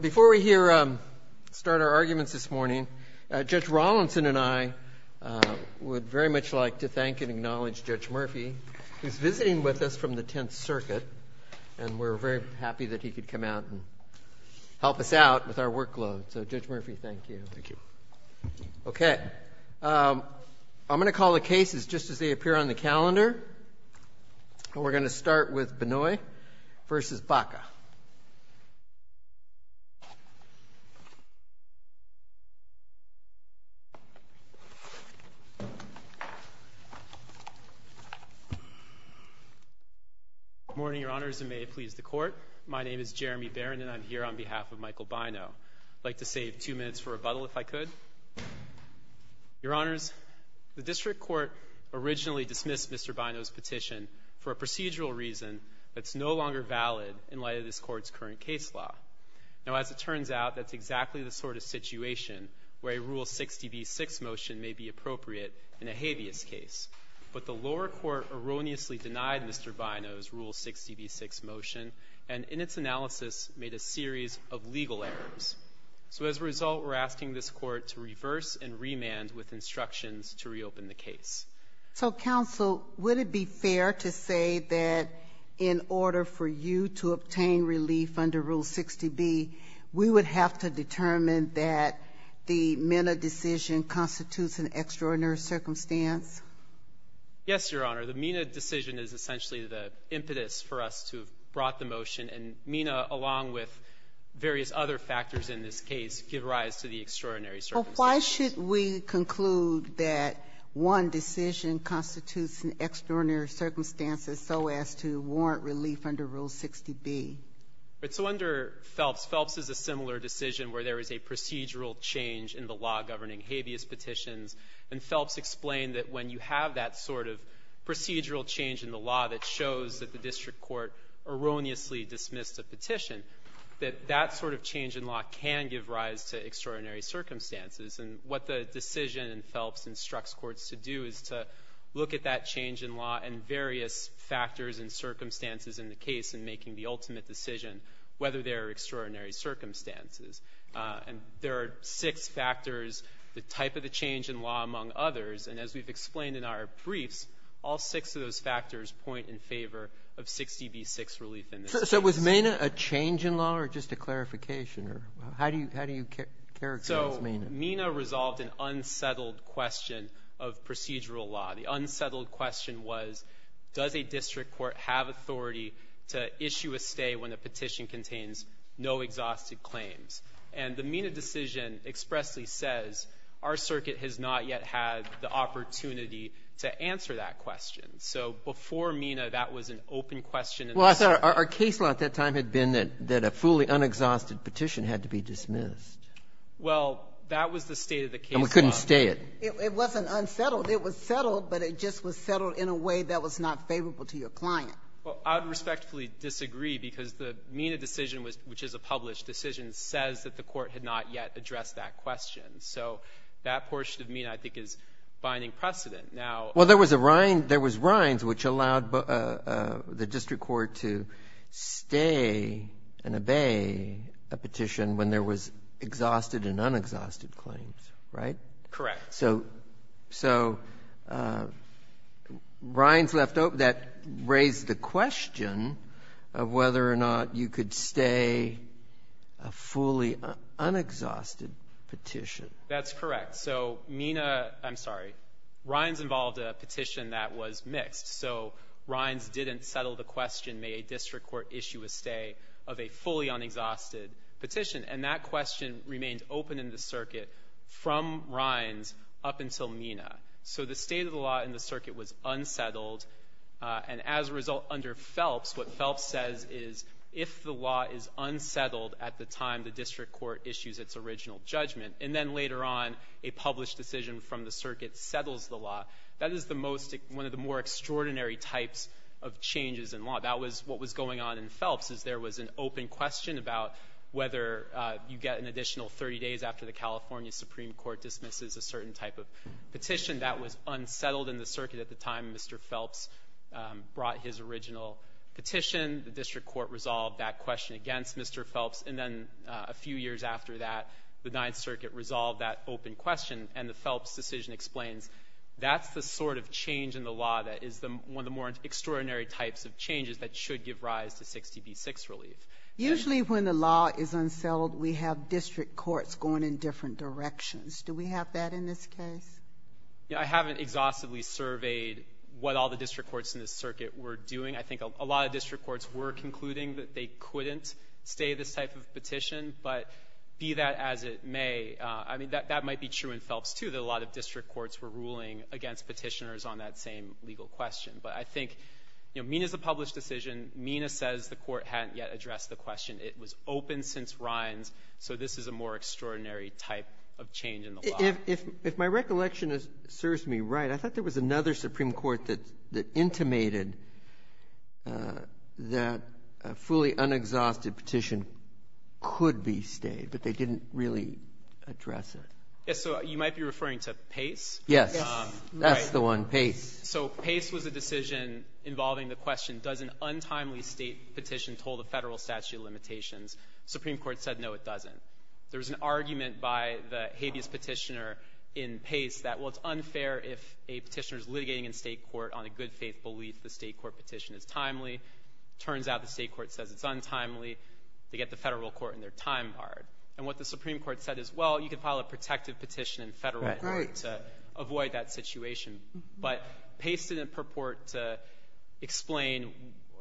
Before we start our arguments this morning, Judge Rawlinson and I would very much like to thank and acknowledge Judge Murphy, who is visiting with us from the Tenth Circuit, and we're very happy that he could come out and help us out with our workload. So Judge I'm going to call the cases just as they appear on the calendar, and we're going to start with Bynoe v. Baca. J. Bynoe Good morning, Your Honors, and may it please the Court. My name is Jeremy Barron, and I'm here on behalf of Michael Bynoe. I'd like Court originally dismissed Mr. Bynoe's petition for a procedural reason that's no longer valid in light of this Court's current case law. Now as it turns out, that's exactly the sort of situation where a Rule 60b-6 motion may be appropriate in a habeas case. But the lower Court erroneously denied Mr. Bynoe's Rule 60b-6 motion, and in its analysis made a series of legal errors. So as a result, we're asking this Court to reverse and remand with instructions to reopen the case. So Counsel, would it be fair to say that in order for you to obtain relief under Rule 60b, we would have to determine that the MENA decision constitutes an extraordinary circumstance? Yes, Your Honor. The MENA decision is essentially the impetus for us to have brought the motion, and MENA, along with various other factors in this case, give rise to the extraordinary circumstance. So why should we conclude that one decision constitutes an extraordinary circumstance as so as to warrant relief under Rule 60b? Right. So under Phelps, Phelps is a similar decision where there is a procedural change in the law governing habeas petitions. And Phelps explained that when you have that sort of procedural change in the law that shows that the district court erroneously dismissed a petition, that that sort of change in law can give rise to extraordinary circumstances. And what the decision in Phelps instructs courts to do is to look at that change in law and various factors and circumstances in the case in making the ultimate decision, whether there are extraordinary circumstances. And there are six factors, the type of the change in law among others, and as we've explained in our briefs, all six of those factors point in favor of 60b-6 relief in this case. So was MENA a change in law or just a clarification? How do you characterize that? So MENA resolved an unsettled question of procedural law. The unsettled question was, does a district court have authority to issue a stay when a petition contains no exhausted claims? And the MENA decision expressly says our circuit has not yet had the opportunity to answer that question. So before MENA, that was an open question in the circuit. Well, our case law at that time had been that a fully unexhausted petition had to be dismissed. Well, that was the state of the case law. And we couldn't stay it. It wasn't unsettled. It was settled, but it just was settled in a way that was not favorable to your client. Well, I would respectfully disagree because the MENA decision, which is a published decision, says that the Court had not yet addressed that question. So that portion of MENA, I think, is binding precedent. Now — Well, there was a — there was rinds which allowed the district court to stay and obey a petition when there was exhausted and unexhausted claims, right? Correct. So — so rinds left open — that raised the question of whether or not you could stay a fully unexhausted petition. That's correct. So MENA — I'm sorry. Rinds involved a petition that was mixed. So rinds didn't settle the question, may a district court issue a stay of a fully unexhausted petition. And that question remained open in the circuit from rinds up until MENA. So the state of the law in the circuit was unsettled. And as a result, under Phelps, what Phelps says is, if the law is unsettled at the time the district court issues its original judgment, and then later on a published decision from the circuit settles the law, that is the most — one of the more extraordinary types of changes in law. That was what was going on in Phelps, is there was an open question about whether you get an additional 30 days after the California Supreme Court dismisses a certain type of petition. That was unsettled in the circuit at the time Mr. Phelps brought his original petition. The district court resolved that question against Mr. Phelps. And then a few years after that, the Ninth Circuit resolved that open question. And the Phelps decision explains, that's the sort of change in the law that is one of the more extraordinary types of changes that should give rise to 60 v. 6 relief. Usually when the law is unsettled, we have district courts going in different directions. Do we have that in this case? I haven't exhaustively surveyed what all the district courts in this circuit were doing. I think a lot of district courts were concluding that they couldn't stay this type of petition. But be that as it may, I mean, that might be true in Phelps too, that a lot of district courts were ruling against petitioners on that same legal question. But I think, you know, MENA's a published decision. MENA says the court hadn't yet addressed the question. It was open since Rhines, so this is a more extraordinary type of change in the law. If my recollection serves me right, I thought there was another Supreme Court that would be stayed, but they didn't really address it. Yes, so you might be referring to Pace? Yes. That's the one, Pace. So Pace was a decision involving the question, does an untimely state petition hold a federal statute of limitations? The Supreme Court said, no, it doesn't. There was an argument by the habeas petitioner in Pace that, well, it's unfair if a petitioner is litigating in state court on a good faith belief the state court petition is timely. Turns out the state court says it's untimely. They get the federal court and their time barred. And what the Supreme Court said is, well, you can file a protective petition in federal court to avoid that situation. But Pace didn't purport to explain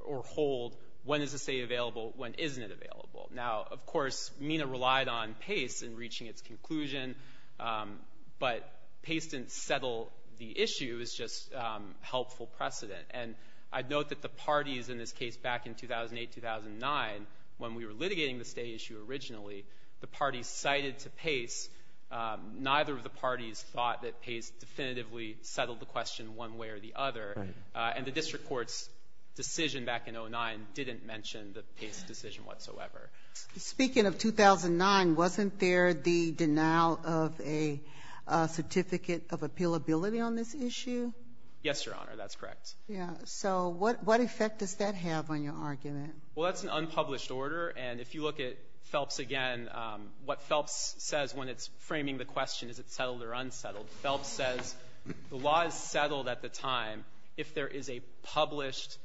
or hold when is the state available, when isn't it available. Now, of course, MENA relied on Pace in reaching its conclusion, but Pace didn't settle the issue. It was just helpful precedent. And I'd note that the parties in this case back in 2008, 2009, when we were litigating the state issue originally, the parties cited to Pace, neither of the parties thought that Pace definitively settled the question one way or the other. And the district court's decision back in 2009 didn't mention the Pace decision whatsoever. Speaking of 2009, wasn't there the denial of a certificate of appealability on this issue? Yes, Your Honor. That's correct. Yeah. So what effect does that have on your argument? Well, that's an unpublished order. And if you look at Phelps again, what Phelps says when it's framing the question, is it settled or unsettled, Phelps says the law is settled at the time if there is a published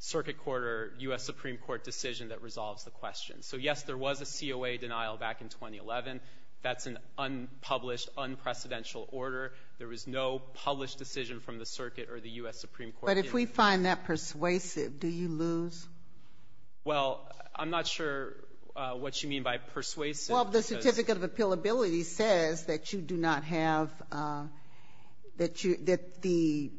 circuit court or U.S. Supreme Court decision that resolves the question. So yes, there was a COA denial back in 2011. That's an unpublished, unprecedented order. There was no published decision from the circuit or the U.S. Supreme Court. But if we find that persuasive, do you lose? Well, I'm not sure what you mean by persuasive. Well, the certificate of appealability says that you do not have, that the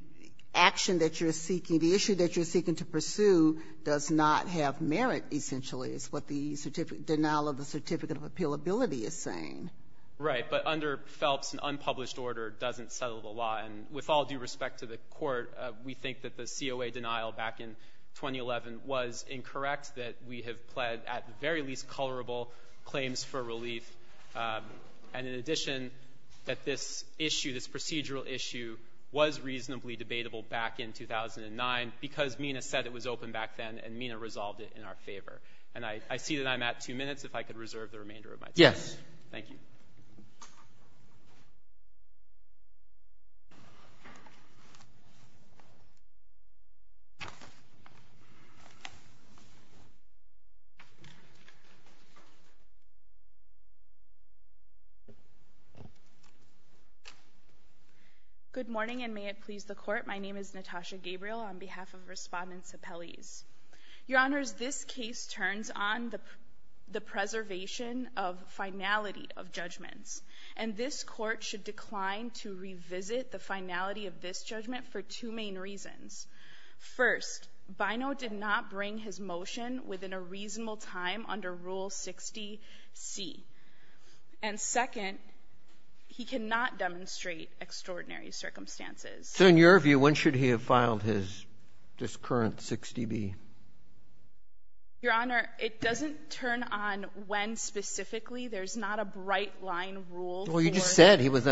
action that you're seeking, the issue that you're seeking to pursue does not have merit, essentially, is what the denial of the certificate of appealability is saying. Right. But under Phelps, an unpublished order doesn't settle the law. And with all due respect to the Court, we think that the COA denial back in 2011 was incorrect, that we have pled at the very least colorable claims for relief. And in addition, that this issue, this procedural issue, was reasonably debatable back in 2009 because MENA said it was open back then and MENA resolved it in our favor. And I see that I'm at two minutes. If I could reserve the remainder of my time. Yes. Thank you. Good morning and may it please the Court, my name is Natasha Gabriel on behalf of Respondents Appellees. Your Honors, this case turns on the preservation of finality of judgments. And this Court should decline to revisit the finality of this judgment for two main reasons. First, Bino did not bring his motion within a reasonable time under Rule 60C. And second, he cannot demonstrate extraordinary circumstances. So in your view, when should he have filed his current 60B? Your Honor, it doesn't turn on when specifically. There's not a bright line rule for... Well, you just said it was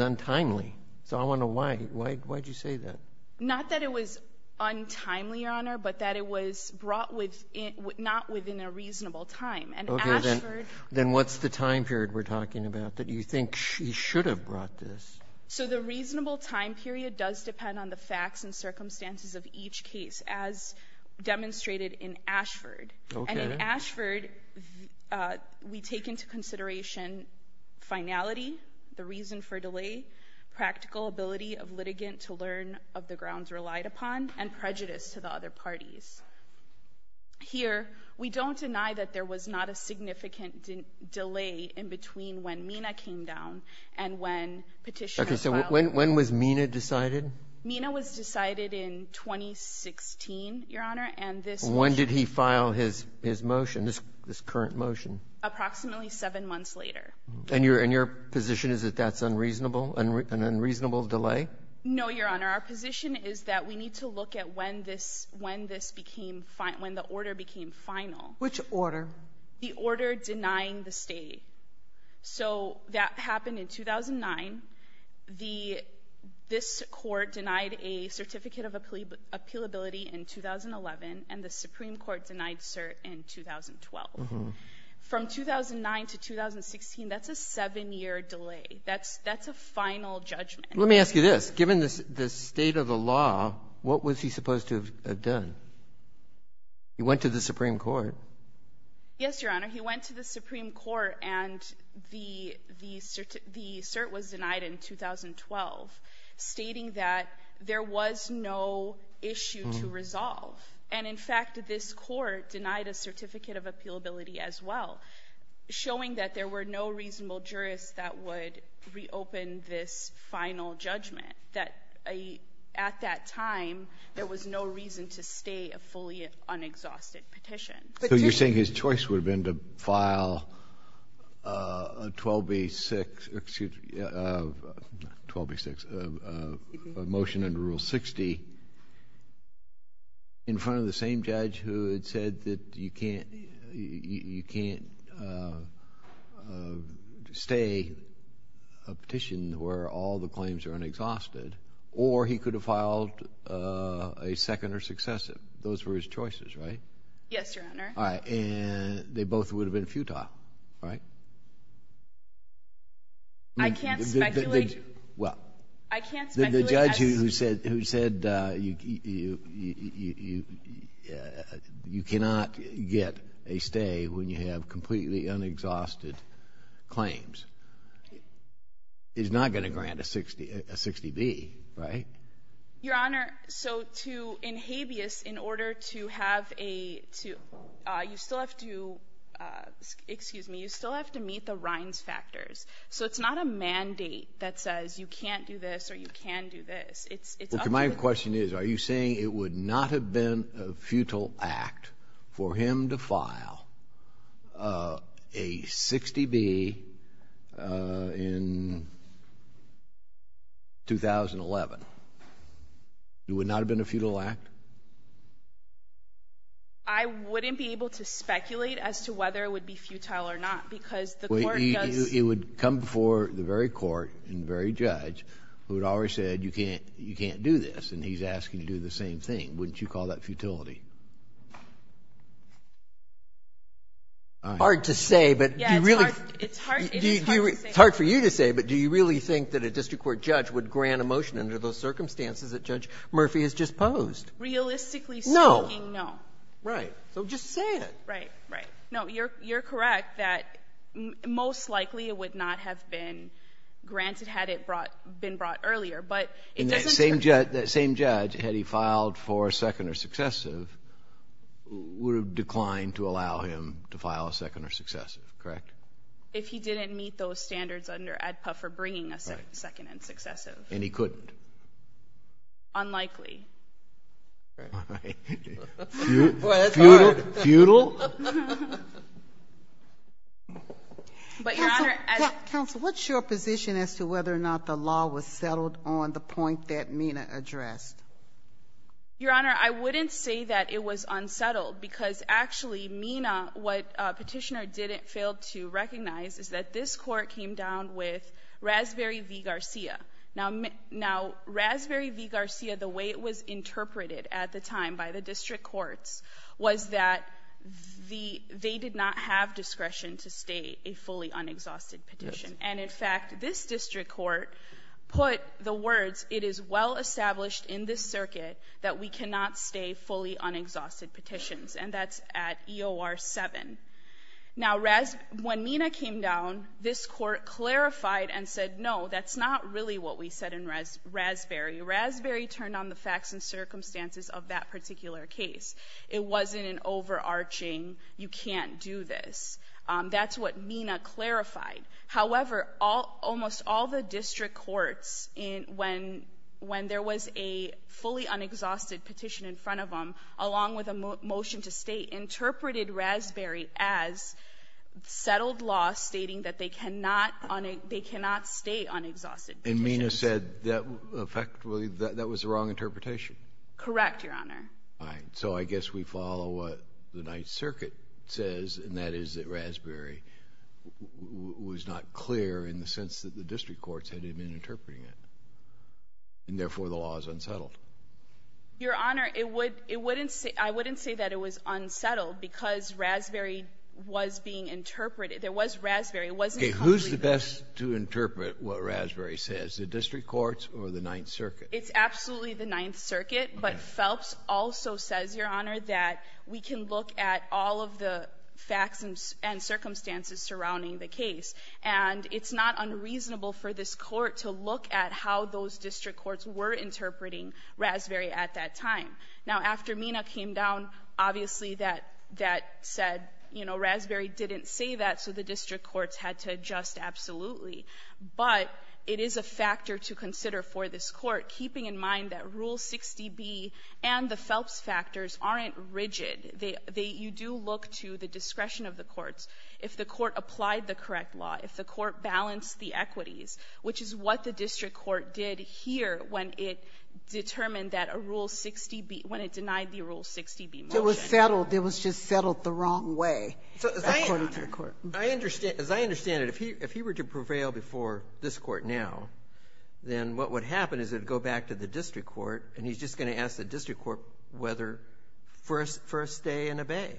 untimely. So I wonder why. Why did you say that? Not that it was untimely, Your Honor, but that it was brought not within a reasonable time. And Ashford... Okay, then what's the time period we're talking about that you think he should have brought this? So the reasonable time period does depend on the facts and circumstances of each case, as demonstrated in Ashford. Okay. And in Ashford, we take into consideration finality, the reason for delay, practical ability of litigant to learn of the grounds relied upon, and prejudice to the other parties. Here, we don't deny that there was not a significant delay in between when Mina came down and when Petitioner filed... Okay. So when was Mina decided? Mina was decided in 2016, Your Honor, and this motion... When did he file his motion, this current motion? Approximately seven months later. And your position is that that's unreasonable, an unreasonable delay? No, Your Honor. Our position is that we need to look at when the order became final. Which order? The order denying the stay. So that happened in 2009. This court denied a certificate of appealability in 2011, and the Supreme Court denied cert in 2012. From 2009 to 2016, that's a seven-year delay. That's a final judgment. Let me ask you this. Given the state of the law, what was he supposed to have done? He went to the Supreme Court. Yes, Your Honor. He went to the Supreme Court, and the cert was denied in 2012, stating that there was no issue to resolve. And in fact, this court denied a certificate of appealability as well, showing that there were no reasonable jurists that would reopen this final judgment, that at that time, there was no reason to stay a fully unexhausted petition. So you're saying his choice would have been to file a 12B6, excuse me, a motion under Rule 60 in front of the same judge who had said that you can't stay a petition where all the claims are unexhausted, or he could have filed a second or successive. Those were his choices, right? Yes, Your Honor. All right. And they both would have been futile, right? I can't speculate. Well, the judge who said you cannot get a stay when you have completely unexhausted claims is not going to grant a 60B, right? Your Honor, so to, in habeas, in order to have a, to, you still have to, excuse me, you still have to meet the Rhines factors. So it's not a mandate that says you can't do this or you can do this. It's up to the judge. Well, my question is, are you saying it would not have been a futile act for him to file a 60B in 2011? It would not have been a futile act? I wouldn't be able to speculate as to whether it would be futile or not because the court does... It would come before the very court and the very judge who had already said you can't do this, and he's asking you to do the same thing. Wouldn't you call that futility? Hard to say, but... Yeah, it's hard. It is hard to say. It's hard for you to say, but do you really think that a district court judge would grant a motion under those circumstances that Judge Murphy has just posed? Realistically speaking, no. No. Right. So just say it. Right. Right. earlier. But it doesn't... That same judge, had he filed for a second or successive, would have declined to allow him to file a second or successive, correct? If he didn't meet those standards under ADPA for bringing a second and successive. And he couldn't? Unlikely. All right. Boy, that's hard. Futile? But, Your Honor... Counsel, what's your position as to whether or not the law was settled on the point that Mena addressed? Your Honor, I wouldn't say that it was unsettled, because actually, Mena, what Petitioner didn't fail to recognize, is that this court came down with Raspberry v. Garcia. Now Raspberry v. Garcia, the way it was interpreted at the time by the district courts, was that they did not have discretion to stay a fully unexhausted petition. And in fact, this district court put the words, it is well established in this circuit that we cannot stay fully unexhausted petitions. And that's at EOR 7. Now when Mena came down, this court clarified and said, no, that's not really what we said in Raspberry. Raspberry turned on the facts and circumstances of that particular case. It wasn't an overarching, you can't do this. That's what Mena clarified. However, almost all the district courts, when there was a fully unexhausted petition in front of them, along with a motion to stay, interpreted Raspberry as settled law stating that they cannot stay unexhausted petitions. And Mena said that effectively, that was the wrong interpretation? Correct, Your Honor. So I guess we follow what the Ninth Circuit says, and that is that Raspberry was not clear in the sense that the district courts had been interpreting it, and therefore the law is unsettled. Your Honor, I wouldn't say that it was unsettled, because Raspberry was being interpreted. There was Raspberry. Okay, who's the best to interpret what Raspberry says, the district courts or the Ninth Circuit? It's absolutely the Ninth Circuit, but Phelps also says, Your Honor, that we can look at all of the facts and circumstances surrounding the case, and it's not unreasonable for this court to look at how those district courts were interpreting Raspberry at that time. Now after Mena came down, obviously that said, you know, Raspberry didn't say that, so the keeping in mind that Rule 60B and the Phelps factors aren't rigid, you do look to the discretion of the courts. If the court applied the correct law, if the court balanced the equities, which is what the district court did here when it determined that a Rule 60B, when it denied the Rule 60B motion. It was settled, it was just settled the wrong way, according to the court. I understand, as I understand it, if he were to prevail before this court now, then what would happen is it would go back to the district court, and he's just going to ask the district court whether, for a stay and a bay,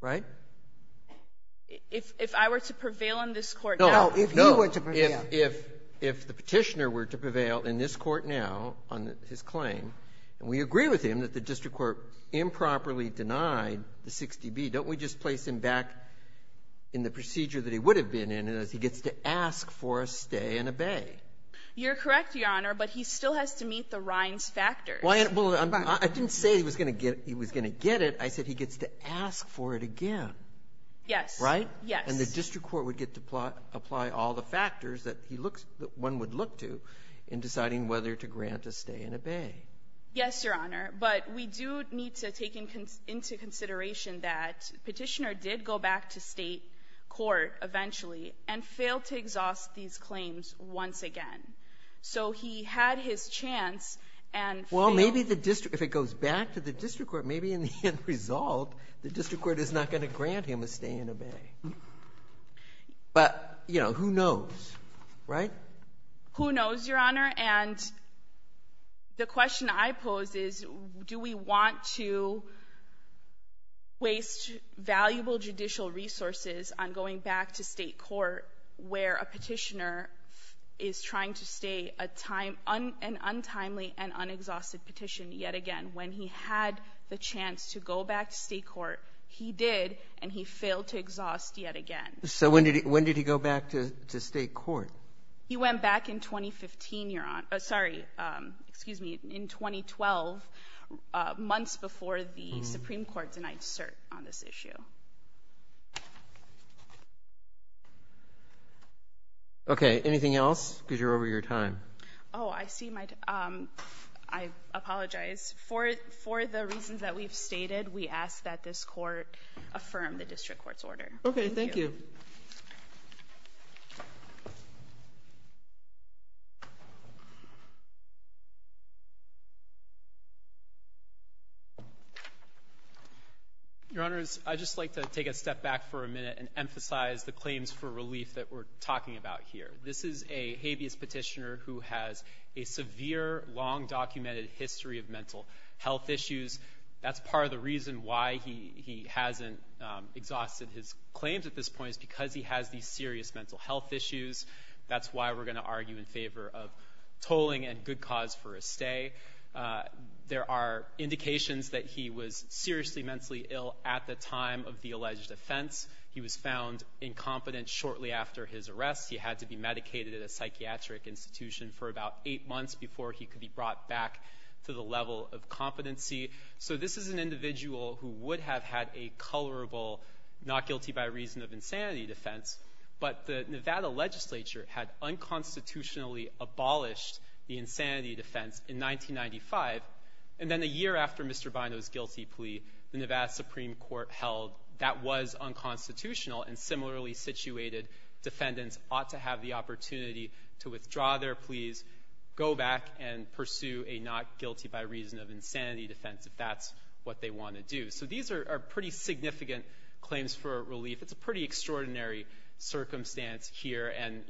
right? If I were to prevail in this court now? No. If you were to prevail. No. If the petitioner were to prevail in this court now on his claim, and we agree with him that the district court improperly denied the 60B, don't we just place him back in the procedure that he would have been in as he gets to ask for a stay and a bay? You're correct, Your Honor, but he still has to meet the Rhine's factors. Well, I didn't say he was going to get it, I said he gets to ask for it again. Yes. Right? Yes. And the district court would get to apply all the factors that one would look to in deciding whether to grant a stay and a bay. Yes, Your Honor, but we do need to take into consideration that the petitioner did go back to state court eventually, and failed to exhaust these claims once again. So he had his chance, and failed. Well, maybe the district, if it goes back to the district court, maybe in the end result, the district court is not going to grant him a stay and a bay, but who knows, right? Who knows, Your Honor, and the question I pose is, do we want to waste valuable judicial resources on going back to state court, where a petitioner is trying to stay an untimely and unexhausted petition yet again? When he had the chance to go back to state court, he did, and he failed to exhaust yet again. So when did he go back to state court? He went back in 2015, Your Honor, sorry, excuse me, in 2012, months before the Supreme Court denied cert on this issue. Okay, anything else? Because you're over your time. Oh, I see my, I apologize. For the reasons that we've stated, we ask that this court affirm the district court's order. Okay, thank you. Your Honors, I'd just like to take a step back for a minute and emphasize the claims for relief that we're talking about here. This is a habeas petitioner who has a severe, long documented history of mental health issues. That's part of the reason why he hasn't exhausted his claims at this point, is because he has these serious mental health issues. That's why we're going to argue in favor of tolling and good cause for a stay. There are indications that he was seriously mentally ill at the time of the alleged offense. He was found incompetent shortly after his arrest. He had to be medicated at a psychiatric institution for about eight months before he could be brought back to the level of competency. So this is an individual who would have had a colorable, not guilty by reason of insanity defense, but the Nevada legislature had unconstitutionally abolished the insanity defense in 1995. And then a year after Mr. Bino's guilty plea, the Nevada Supreme Court held that was unconstitutional and similarly situated defendants ought to have the opportunity to withdraw their pleas, go back and pursue a not guilty by reason of insanity defense if that's what they want to do. So these are pretty significant claims for relief. It's a pretty extraordinary circumstance here. And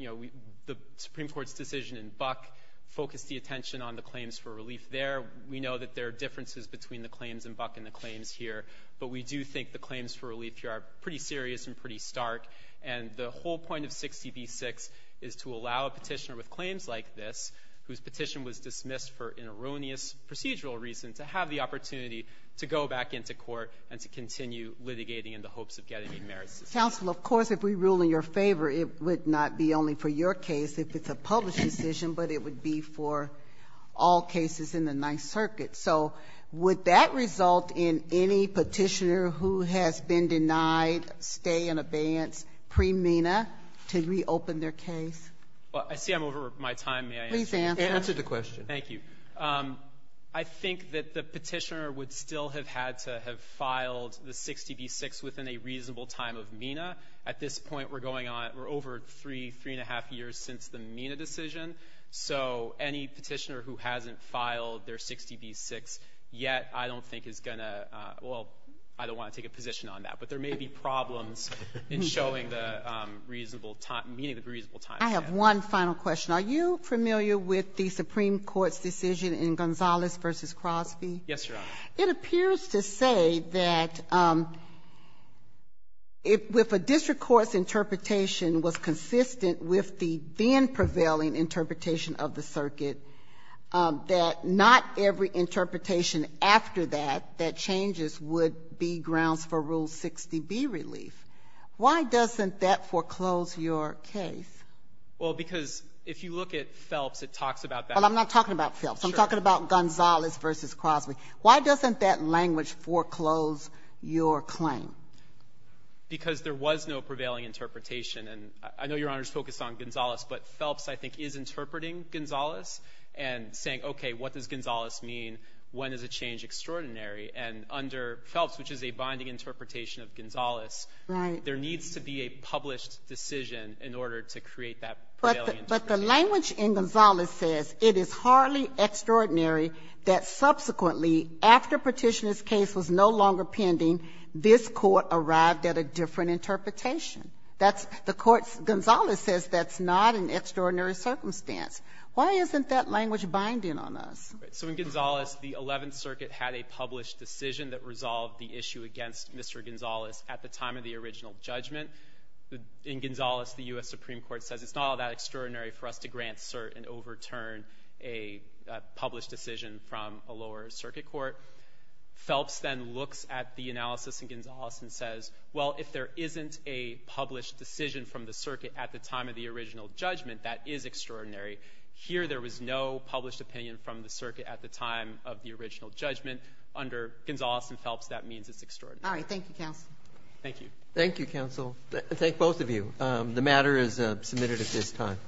the Supreme Court's decision in Buck focused the attention on the claims for relief there. We know that there are differences between the claims in Buck and the claims here, but we do think the claims for relief here are pretty serious and pretty stark. And the whole point of 60 v. 6 is to allow a petitioner with claims like this, whose petition was dismissed for an erroneous procedural reason, to have the opportunity to go back into court and to continue litigating in the hopes of getting a merit system. Counsel, of course, if we rule in your favor, it would not be only for your case if it's a published decision, but it would be for all cases in the Ninth Circuit. So would that result in any petitioner who has been denied stay in abeyance pre-MENA to reopen their case? Well, I see I'm over my time. May I answer? Please answer. Answer the question. Thank you. I think that the petitioner would still have had to have filed the 60 v. 6 within a reasonable time of MENA. At this point, we're going on, we're over three, three and a half years since the MENA decision. So any petitioner who hasn't filed their 60 v. 6 yet, I don't think is going to, well, I don't want to take a position on that. But there may be problems in showing the reasonable time, meeting the reasonable time. I have one final question. Are you familiar with the Supreme Court's decision in Gonzalez v. Crosby? Yes, Your Honor. It appears to say that if a district court's interpretation was consistent with the then prevailing interpretation of the circuit, that not every interpretation after that, that changes would be grounds for Rule 60b relief. Why doesn't that foreclose your case? Well, because if you look at Phelps, it talks about that. Well, I'm not talking about Phelps. I'm talking about Gonzalez v. Crosby. Why doesn't that language foreclose your claim? Because there was no prevailing interpretation. I know Your Honor is focused on Gonzalez, but Phelps, I think, is interpreting Gonzalez and saying, okay, what does Gonzalez mean? When is a change extraordinary? And under Phelps, which is a binding interpretation of Gonzalez, there needs to be a published decision in order to create that prevailing interpretation. But the language in Gonzalez says it is hardly extraordinary that subsequently, after petitioner's case was no longer pending, this court arrived at a different interpretation. The court, Gonzalez says that's not an extraordinary circumstance. Why isn't that language binding on us? All right. So in Gonzalez, the Eleventh Circuit had a published decision that resolved the issue against Mr. Gonzalez at the time of the original judgment. In Gonzalez, the U.S. Supreme Court says it's not all that extraordinary for us to grant cert and overturn a published decision from a lower circuit court. Phelps then looks at the analysis in Gonzalez and says, well, if there isn't a published decision from the circuit at the time of the original judgment, that is extraordinary. Here, there was no published opinion from the circuit at the time of the original judgment. Under Gonzalez and Phelps, that means it's extraordinary. All right. Thank you, counsel. Thank you. Thank you, counsel. Thank both of you. The matter is submitted at this time.